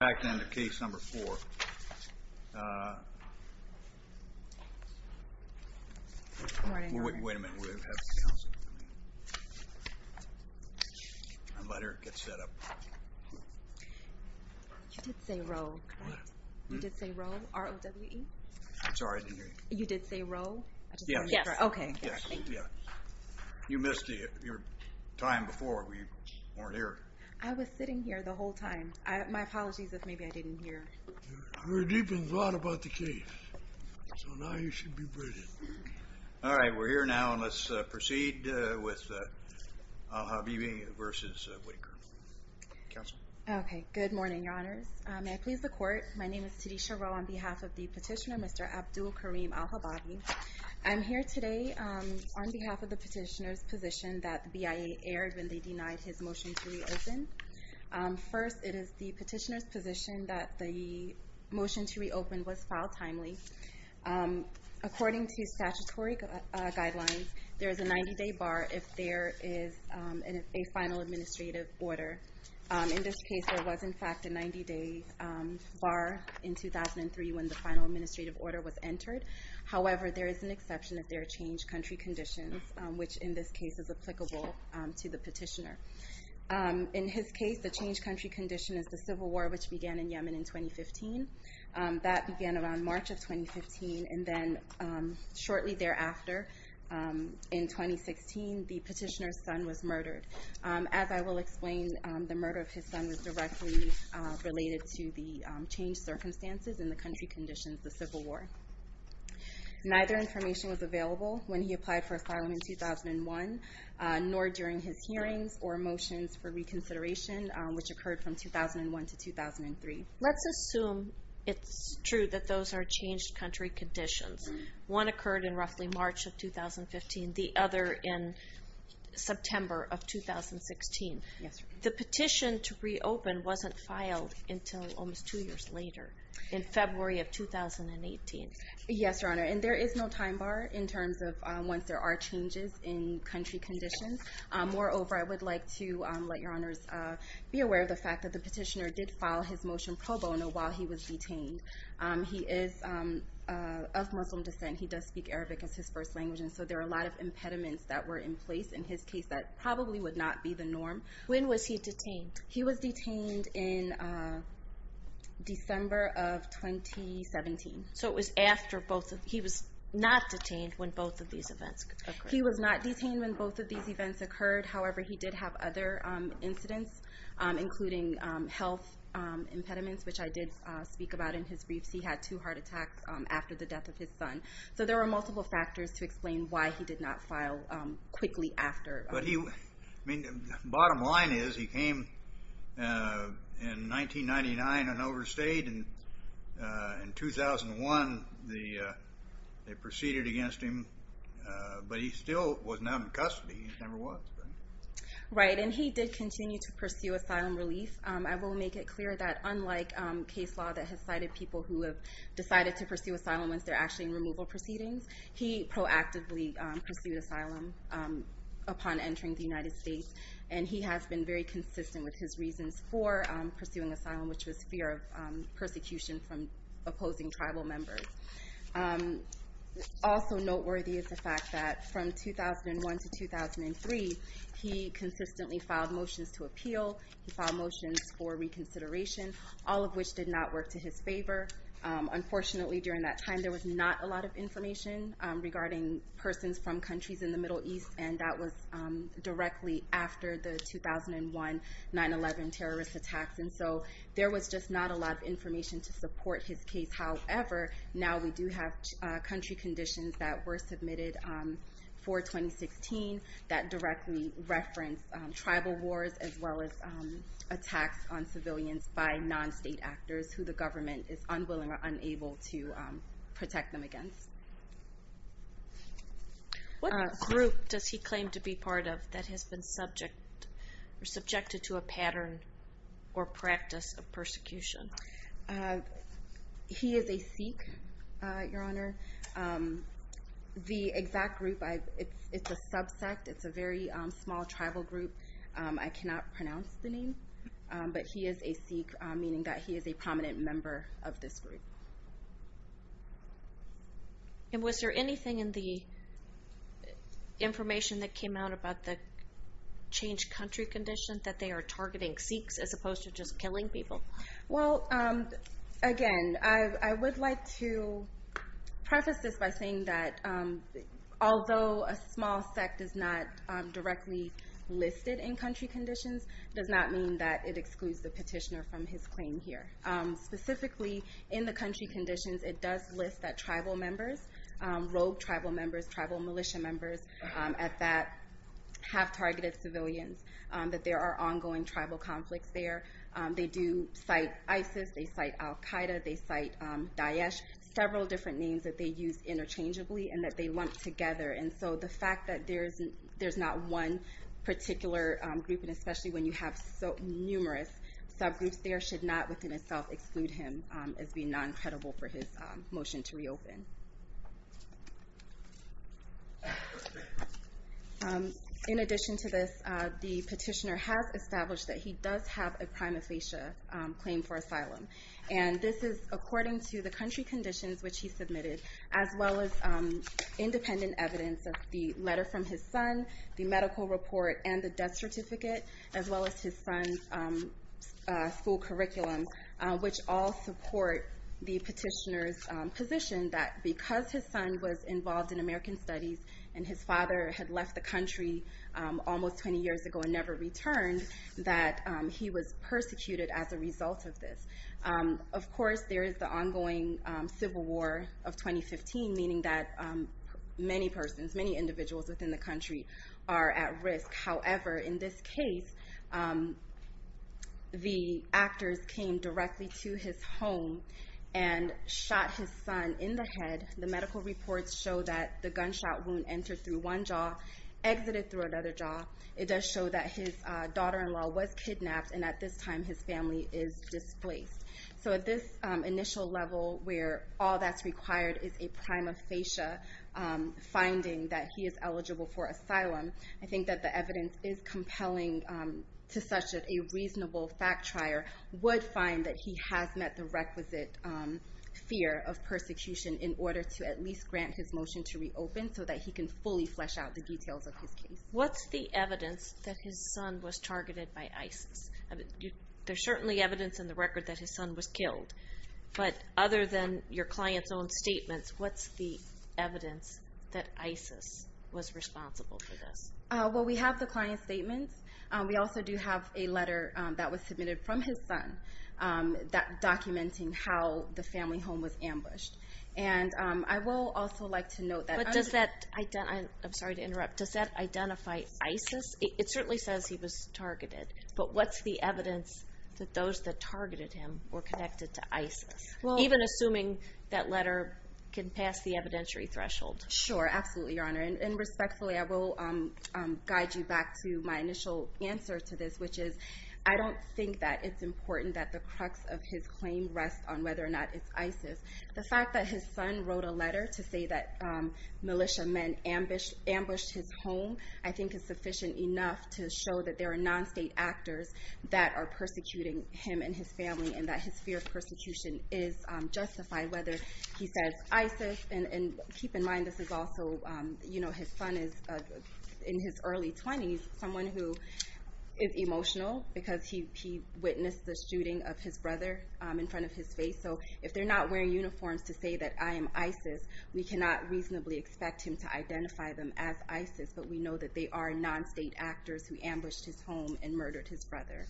Back then, the case number four. Wait a minute, we have a counselor. Let her get set up. You did say Rowe, right? What? You did say Rowe, R-O-W-E? I'm sorry, I didn't hear you. You did say Rowe? Yes. Okay. Yes. You missed your time before when you weren't here. I was sitting here the whole time. My apologies if maybe I didn't hear. You were deep in thought about the case. So now you should be briefed. All right. We're here now and let's proceed with Al Habibi v. Whitaker. Counselor? Okay. Good morning, Your Honors. May I please the court? My name is Tadisha Rowe on behalf of the petitioner, Mr. Abdul Karim Al Hababi. I'm here today on behalf of the petitioner's position that BIA erred when they denied his motion to reopen. First, it is the petitioner's position that the motion to reopen was filed timely. According to statutory guidelines, there is a 90-day bar if there is a final administrative order. In this case, there was, in fact, a 90-day bar in 2003 when the final administrative order was entered. However, there is an exception if there are changed country conditions, which in this case is applicable to the petitioner. In his case, the changed country condition is the civil war which began in Yemen in 2015. That began around March of 2015 and then shortly thereafter, in 2016, the petitioner's son was murdered. As I will explain, the murder of his son was directly related to the changed circumstances and the country conditions, the civil war. Neither information was available when he applied for asylum in 2001, nor during his hearings or motions for reconsideration, which occurred from 2001 to 2003. Let's assume it's true that those are changed country conditions. One occurred in roughly March of 2015, the other in September of 2016. The petition to reopen wasn't filed until almost two years later, in February of 2018. Yes, Your Honor, and there is no time bar in terms of once there are changes in country conditions. Moreover, I would like to let Your Honors be aware of the fact that the petitioner did file his motion pro bono while he was detained. He is of Muslim descent. He does speak Arabic as his first language, and so there are a lot of impediments that were in place in his case that probably would not be the norm. When was he detained? He was detained in December of 2017. So it was after both of, he was not detained when both of these events occurred. He was not detained when both of these events occurred. However, he did have other incidents, including health impediments, which I did speak about in his briefs. He had two heart attacks after the death of his son. So there were multiple factors to explain why he did not file quickly after. Bottom line is, he came in 1999 and overstayed. In 2001, they proceeded against him, but he still was not in custody. He never was. Right, and he did continue to pursue asylum relief. I will make it clear that unlike case law that has cited people who have decided to pursue asylum once they're actually in removal proceedings, he proactively pursued asylum upon entering the United States, and he has been very consistent with his reasons for pursuing asylum, which was fear of persecution from opposing tribal members. Also noteworthy is the fact that from 2001 to 2003, he consistently filed motions to appeal. He filed motions for reconsideration, all of which did not work to his favor. Unfortunately, during that time, there was not a lot of directly after the 2001 9-11 terrorist attacks, and so there was just not a lot of information to support his case. However, now we do have country conditions that were submitted for 2016 that directly reference tribal wars as well as attacks on civilians by non-state actors who the government is unwilling or unable to protect them against. What group does he claim to be part of that has been subjected to a pattern or practice of persecution? He is a Sikh, Your Honor. The exact group, it's a subsect. It's a very small tribal group. I cannot pronounce the name, but he is a Sikh, meaning that he is a prominent member of this group. And was there anything in the information that came out about the changed country condition that they are targeting Sikhs as opposed to just killing people? Well, again, I would like to preface this by saying that although a small sect is not directly listed in country conditions, it does not mean that it excludes the petitioner from his claim here. Specifically, in the country conditions, it does list that tribal members, rogue tribal members, tribal militia members at that have targeted civilians, that there are ongoing tribal conflicts there. They do cite ISIS, they cite Al-Qaeda, they cite Daesh, several different names that they use interchangeably and that they lump together. And so the fact that there's not one particular group, and especially when you have so numerous subgroups, there should not within itself exclude him as being non-credible for his motion to reopen. In addition to this, the petitioner has established that he does have a prima facie claim for asylum. And this is according to the country conditions which he submitted, as well as independent evidence of the letter from his son, the medical report, and the death certificate, as well as his son's school curriculum, which all support the petitioner's position that because his son was involved in American studies and his father had left the country almost 20 years ago and never returned, that he was persecuted as a result of this. Of course, there is the ongoing civil war of 2015, meaning that many persons, many individuals within the country are at risk. However, in this case, the actors came directly to his home and shot his son in the head. The medical reports show that the gunshot wound entered through one jaw, exited through another jaw. It does show that his daughter-in-law was kidnapped, and at this time his family is displaced. So at this initial level, where all that's required is a prima facie finding that he is eligible for asylum, I think that the evidence is compelling to such that a reasonable fact-trier would find that he has met the requisite fear of persecution in order to at least grant his motion to reopen so that he can fully flesh out the details of his case. What's the evidence that his son was targeted by ISIS? There's certainly evidence in the record that his son was killed. But other than your client's own statements, what's the evidence that ISIS was responsible for this? Well, we have the client's statements. We also do have a letter that was submitted from his son documenting how the family home was ambushed. And I will also like to note that... But does that... I'm sorry to interrupt. Does that identify ISIS? It certainly says he was targeted. But what's the evidence that those that targeted him were connected to ISIS? Even assuming that letter can pass the evidentiary threshold. Sure, absolutely, Your Honor. And respectfully, I will guide you back to my initial answer to this, which is I don't think that it's important that the crux of his claim rests on whether or not it's ISIS. The fact that his son wrote a letter to say that militia men ambushed his home I think is sufficient enough to show that there are non-state actors that are persecuting him and his family and that his fear of persecution is justified, whether he says ISIS. And keep in mind this is also... His son is, in his early 20s, someone who is emotional because he witnessed the shooting of his brother in front of his face. So if they're not wearing uniforms to say that I am ISIS, we cannot reasonably expect him to identify them as ISIS. But we know that they are non-state actors who ambushed his home and murdered his brother.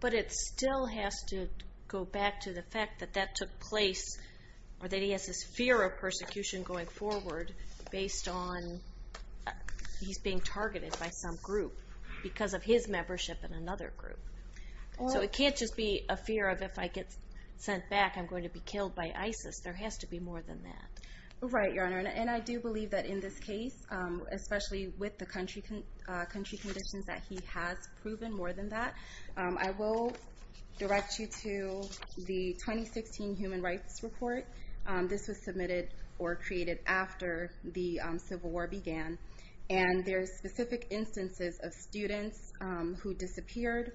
But it still has to go back to the fact that that took place or that he has this fear of persecution going forward based on he's being targeted by some group because of his membership in another group. So it can't just be a fear of if I get sent back, I'm going to be killed by ISIS. There has to be more than that. Right, Your Honor. And I do believe that in this case, especially with the country conditions that he has proven, more than that. I will direct you to the 2016 Human Rights Report. This was submitted or created after the Civil War began. And there are specific instances of students who disappeared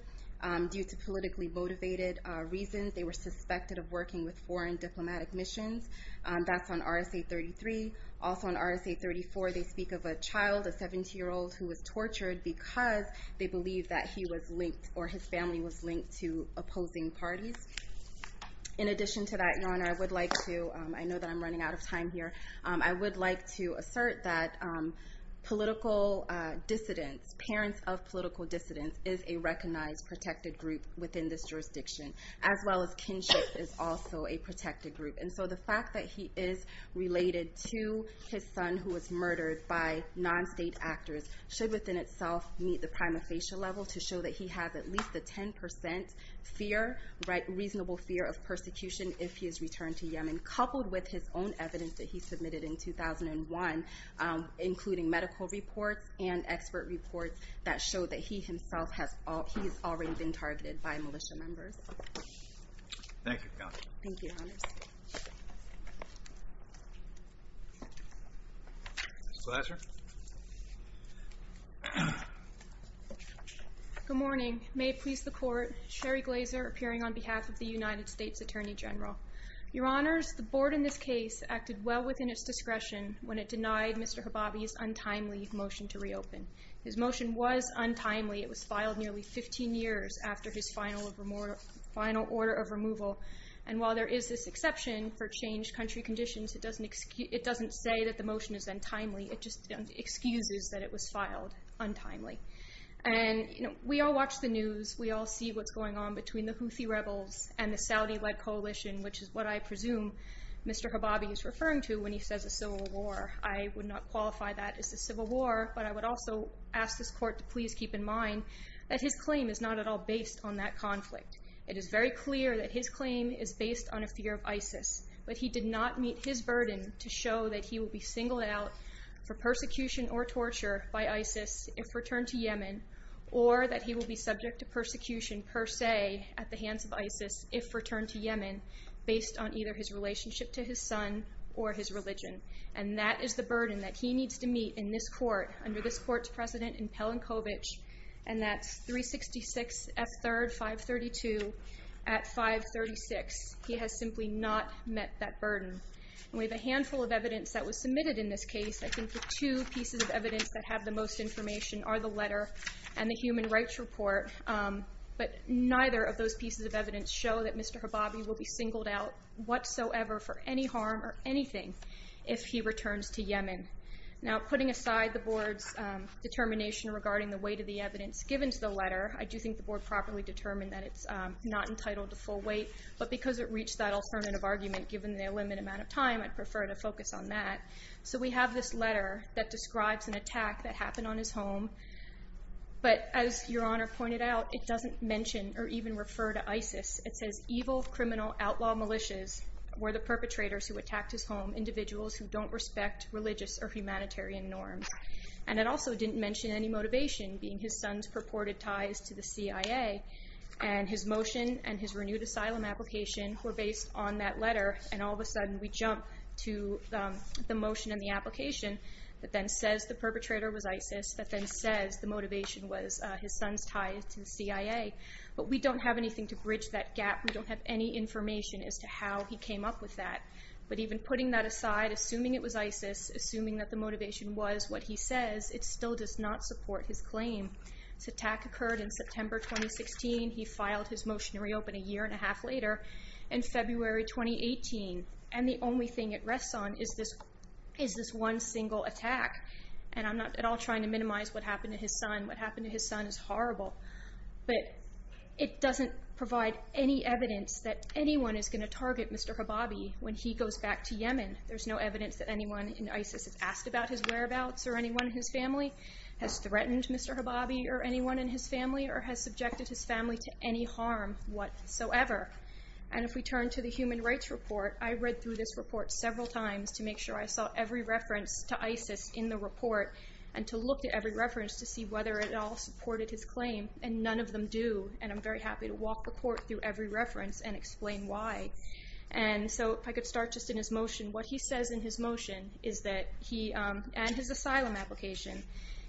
due to politically motivated reasons. They were suspected of working with foreign diplomatic missions. That's on RSA 33. Also on RSA 34, they speak of a child, a 17-year-old who was tortured because they believe that he was linked or his family was linked to opposing parties. In addition to that, Your Honor, I would like to... I know that I'm running out of time here. I would like to assert that political dissidents, parents of political dissidents, is a recognized protected group within this jurisdiction. As well as kinship is also a protected group. And so the fact that he is related to his son who was murdered by non-state actors should within itself meet the prima facie level to show that he has at least a 10% reasonable fear of persecution if he is returned to Yemen. Coupled with his own evidence that he submitted in 2001, including medical reports and expert reports that show that he himself has already been targeted by militia members. Thank you, Your Honor. Thank you, Your Honor. Ms. Glazer. Good morning. May it please the Court. Sherry Glazer appearing on behalf of the United States Attorney General. Your Honors, the Board in this case acted well within its discretion when it denied Mr. Hababi's untimely motion to reopen. His motion was untimely. It was filed nearly 15 years after his final order of removal. And while there is this exception for changed country conditions, it doesn't say that the motion is untimely. It just excuses that it was filed untimely. And we all watch the news. We all see what's going on between the Houthi rebels and the Saudi-led coalition, which is what I presume Mr. Hababi is referring to when he says a civil war. I would not qualify that as a civil war, but I would also ask this Court to please keep in mind that his claim is not at all based on that conflict. It is very clear that his claim is based on a fear of ISIS, but he did not meet his burden to show that he will be singled out for persecution or torture by ISIS if returned to Yemen, or that he will be subject to persecution per se at the hands of ISIS if returned to Yemen based on either his relationship to his son or his religion. And that is the burden that he needs to meet in this Court, under this Court's precedent in Pelinkovich, and that's 366 F3rd 532 at 536. He has simply not met that burden. We have a handful of evidence that was submitted in this case. I think the two pieces of evidence that have the most information are the letter and the human rights report, but neither of those pieces of evidence show that Mr. Hababi will be singled out whatsoever for any harm or anything if he returns to Yemen. Now, putting aside the Board's determination regarding the weight of the evidence given to the letter, I do think the Board properly determined that it's not entitled to full weight, but because it reached that alternative argument given the limited amount of time, I'd prefer to focus on that. So we have this letter that describes an attack that happened on his home, but as Your Honor pointed out, it doesn't mention or even refer to ISIS. It says, evil criminal outlaw militias were the perpetrators who attacked his home, individuals who don't respect religious or humanitarian norms. And it also didn't mention any motivation, being his son's purported ties to the CIA, and his motion and his renewed asylum application were based on that letter, and all of a sudden we jump to the motion and the application that then says the perpetrator was ISIS, that then says the motivation was his son's ties to the CIA. But we don't have anything to bridge that gap. We don't have any information as to how he came up with that. But even putting that aside, assuming it was ISIS, assuming that the motivation was what he says, it still does not support his claim. This attack occurred in September 2016. He filed his motion to reopen a year and a half later in February 2018, and the only thing it rests on is this one single attack. And I'm not at all trying to minimize what happened to his son. What happened to his son is horrible, but it doesn't provide any evidence that anyone is going to target Mr. Hababi when he goes back to Yemen. There's no evidence that anyone in ISIS has asked about his whereabouts or anyone in his family, has threatened Mr. Hababi or anyone in his family, or has subjected his family to any harm whatsoever. And if we turn to the Human Rights Report, I read through this report several times to make sure I saw every reference to ISIS in the report and to look at every reference to see whether it all supported his claim, and none of them do. And I'm very happy to walk the court through every reference and explain why. And so if I could start just in his motion. What he says in his motion is that he, and his asylum application,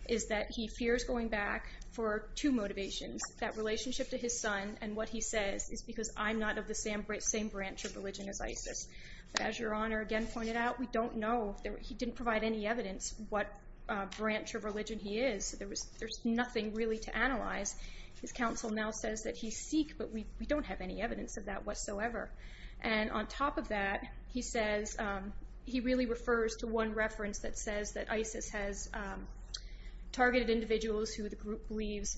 is that he fears going back for two motivations, that relationship to his son, and what he says is because I'm not of the same branch of religion as ISIS. But as Your Honor again pointed out, we don't know. He didn't provide any evidence what branch of religion he is. There's nothing really to analyze. His counsel now says that he's Sikh, but we don't have any evidence of that whatsoever. And on top of that, he says, he really refers to one reference that says that ISIS has targeted individuals who the group believes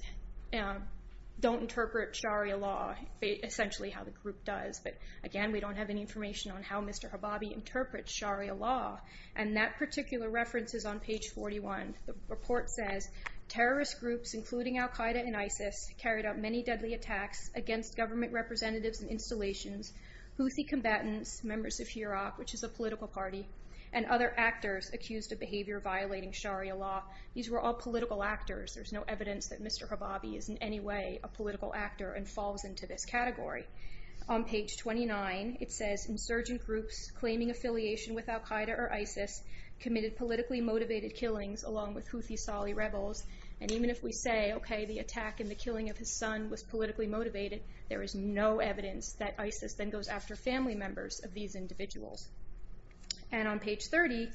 don't interpret Sharia law, essentially how the group does. But again, we don't have any information on how Mr. Hababi interprets Sharia law. And that particular reference is on page 41. The report says terrorist groups, including Al-Qaeda and ISIS, carried out many deadly attacks against government representatives and installations, Houthi combatants, members of Hurok, which is a political party, and other actors accused of behavior violating Sharia law. These were all political actors. There's no evidence that Mr. Hababi is in any way a political actor and falls into this category. On page 29, it says insurgent groups claiming affiliation with Al-Qaeda or ISIS committed politically motivated killings along with Houthi Sali rebels. And even if we say, okay, the attack and the killing of his son was politically motivated, there is no evidence that ISIS then goes after family members of these individuals. And on page 30,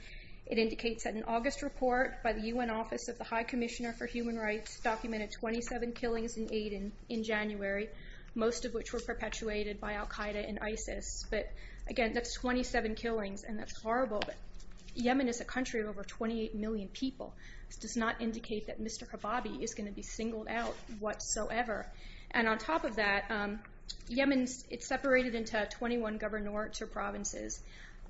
it indicates that an August report by the UN Office of the High Commissioner for Human Rights documented 27 killings in Aden in January, most of which were perpetuated by Al-Qaeda and ISIS. But, again, that's 27 killings, and that's horrible. Yemen is a country of over 28 million people. This does not indicate that Mr. Hababi is going to be singled out whatsoever. And on top of that, Yemen is separated into 21 governorates or provinces.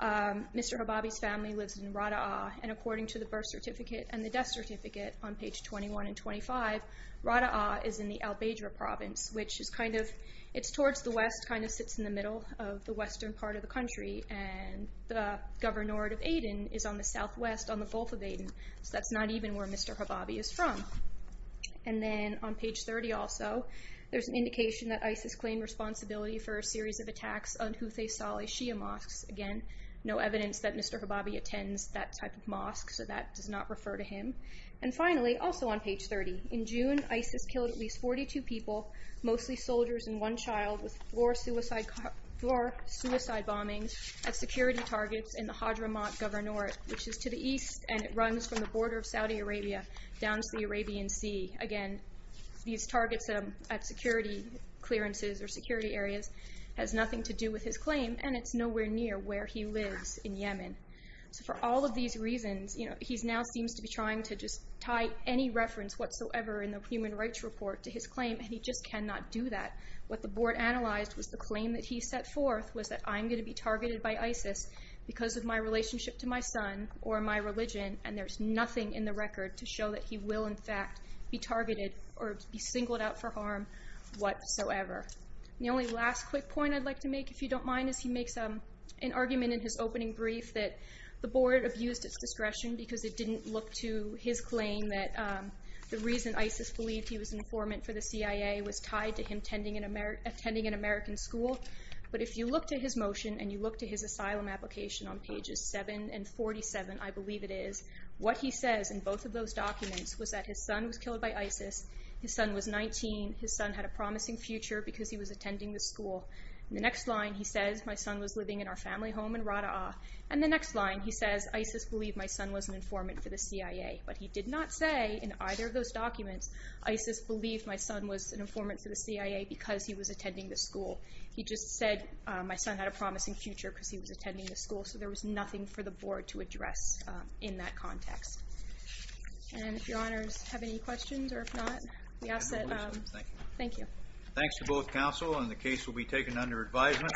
Mr. Hababi's family lives in Rada'a, and according to the birth certificate and the death certificate on page 21 and 25, Rada'a is in the al-Badra province, which is kind of, it's towards the west, kind of sits in the middle of the western part of the country. And the governorate of Aden is on the southwest on the Gulf of Aden. So that's not even where Mr. Hababi is from. And then on page 30 also, there's an indication that ISIS claimed responsibility for a series of attacks on Houthi Sali Shia mosques. Again, no evidence that Mr. Hababi attends that type of mosque, so that does not refer to him. And finally, also on page 30, in June, ISIS killed at least 42 people, mostly soldiers and one child, with four suicide bombings at security targets in the Hadhramaut governorate, which is to the east, and it runs from the border of Saudi Arabia down to the Arabian Sea. Again, these targets at security clearances or security areas has nothing to do with his claim, and it's nowhere near where he lives in Yemen. So for all of these reasons, he now seems to be trying to just tie any reference whatsoever in the Human Rights Report to his claim, and he just cannot do that. What the board analyzed was the claim that he set forth was that, I'm going to be targeted by ISIS because of my relationship to my son or my religion, and there's nothing in the record to show that he will in fact be targeted or be singled out for harm whatsoever. The only last quick point I'd like to make, if you don't mind, is he makes an argument in his opening brief that the board abused its discretion because it didn't look to his claim that the reason ISIS believed he was an informant for the CIA was tied to him attending an American school. But if you look to his motion and you look to his asylum application on pages 7 and 47, I believe it is, what he says in both of those documents was that his son was killed by ISIS, his son was 19, his son had a promising future because he was attending this school. In the next line he says, my son was living in our family home in Rada'ah. In the next line he says, ISIS believed my son was an informant for the CIA, but he did not say in either of those documents, ISIS believed my son was an informant for the CIA because he was attending this school. He just said my son had a promising future because he was attending this school, so there was nothing for the board to address in that context. And if your honors have any questions or if not, we ask that, thank you. Thanks to both counsel, and the case will be taken under advisement.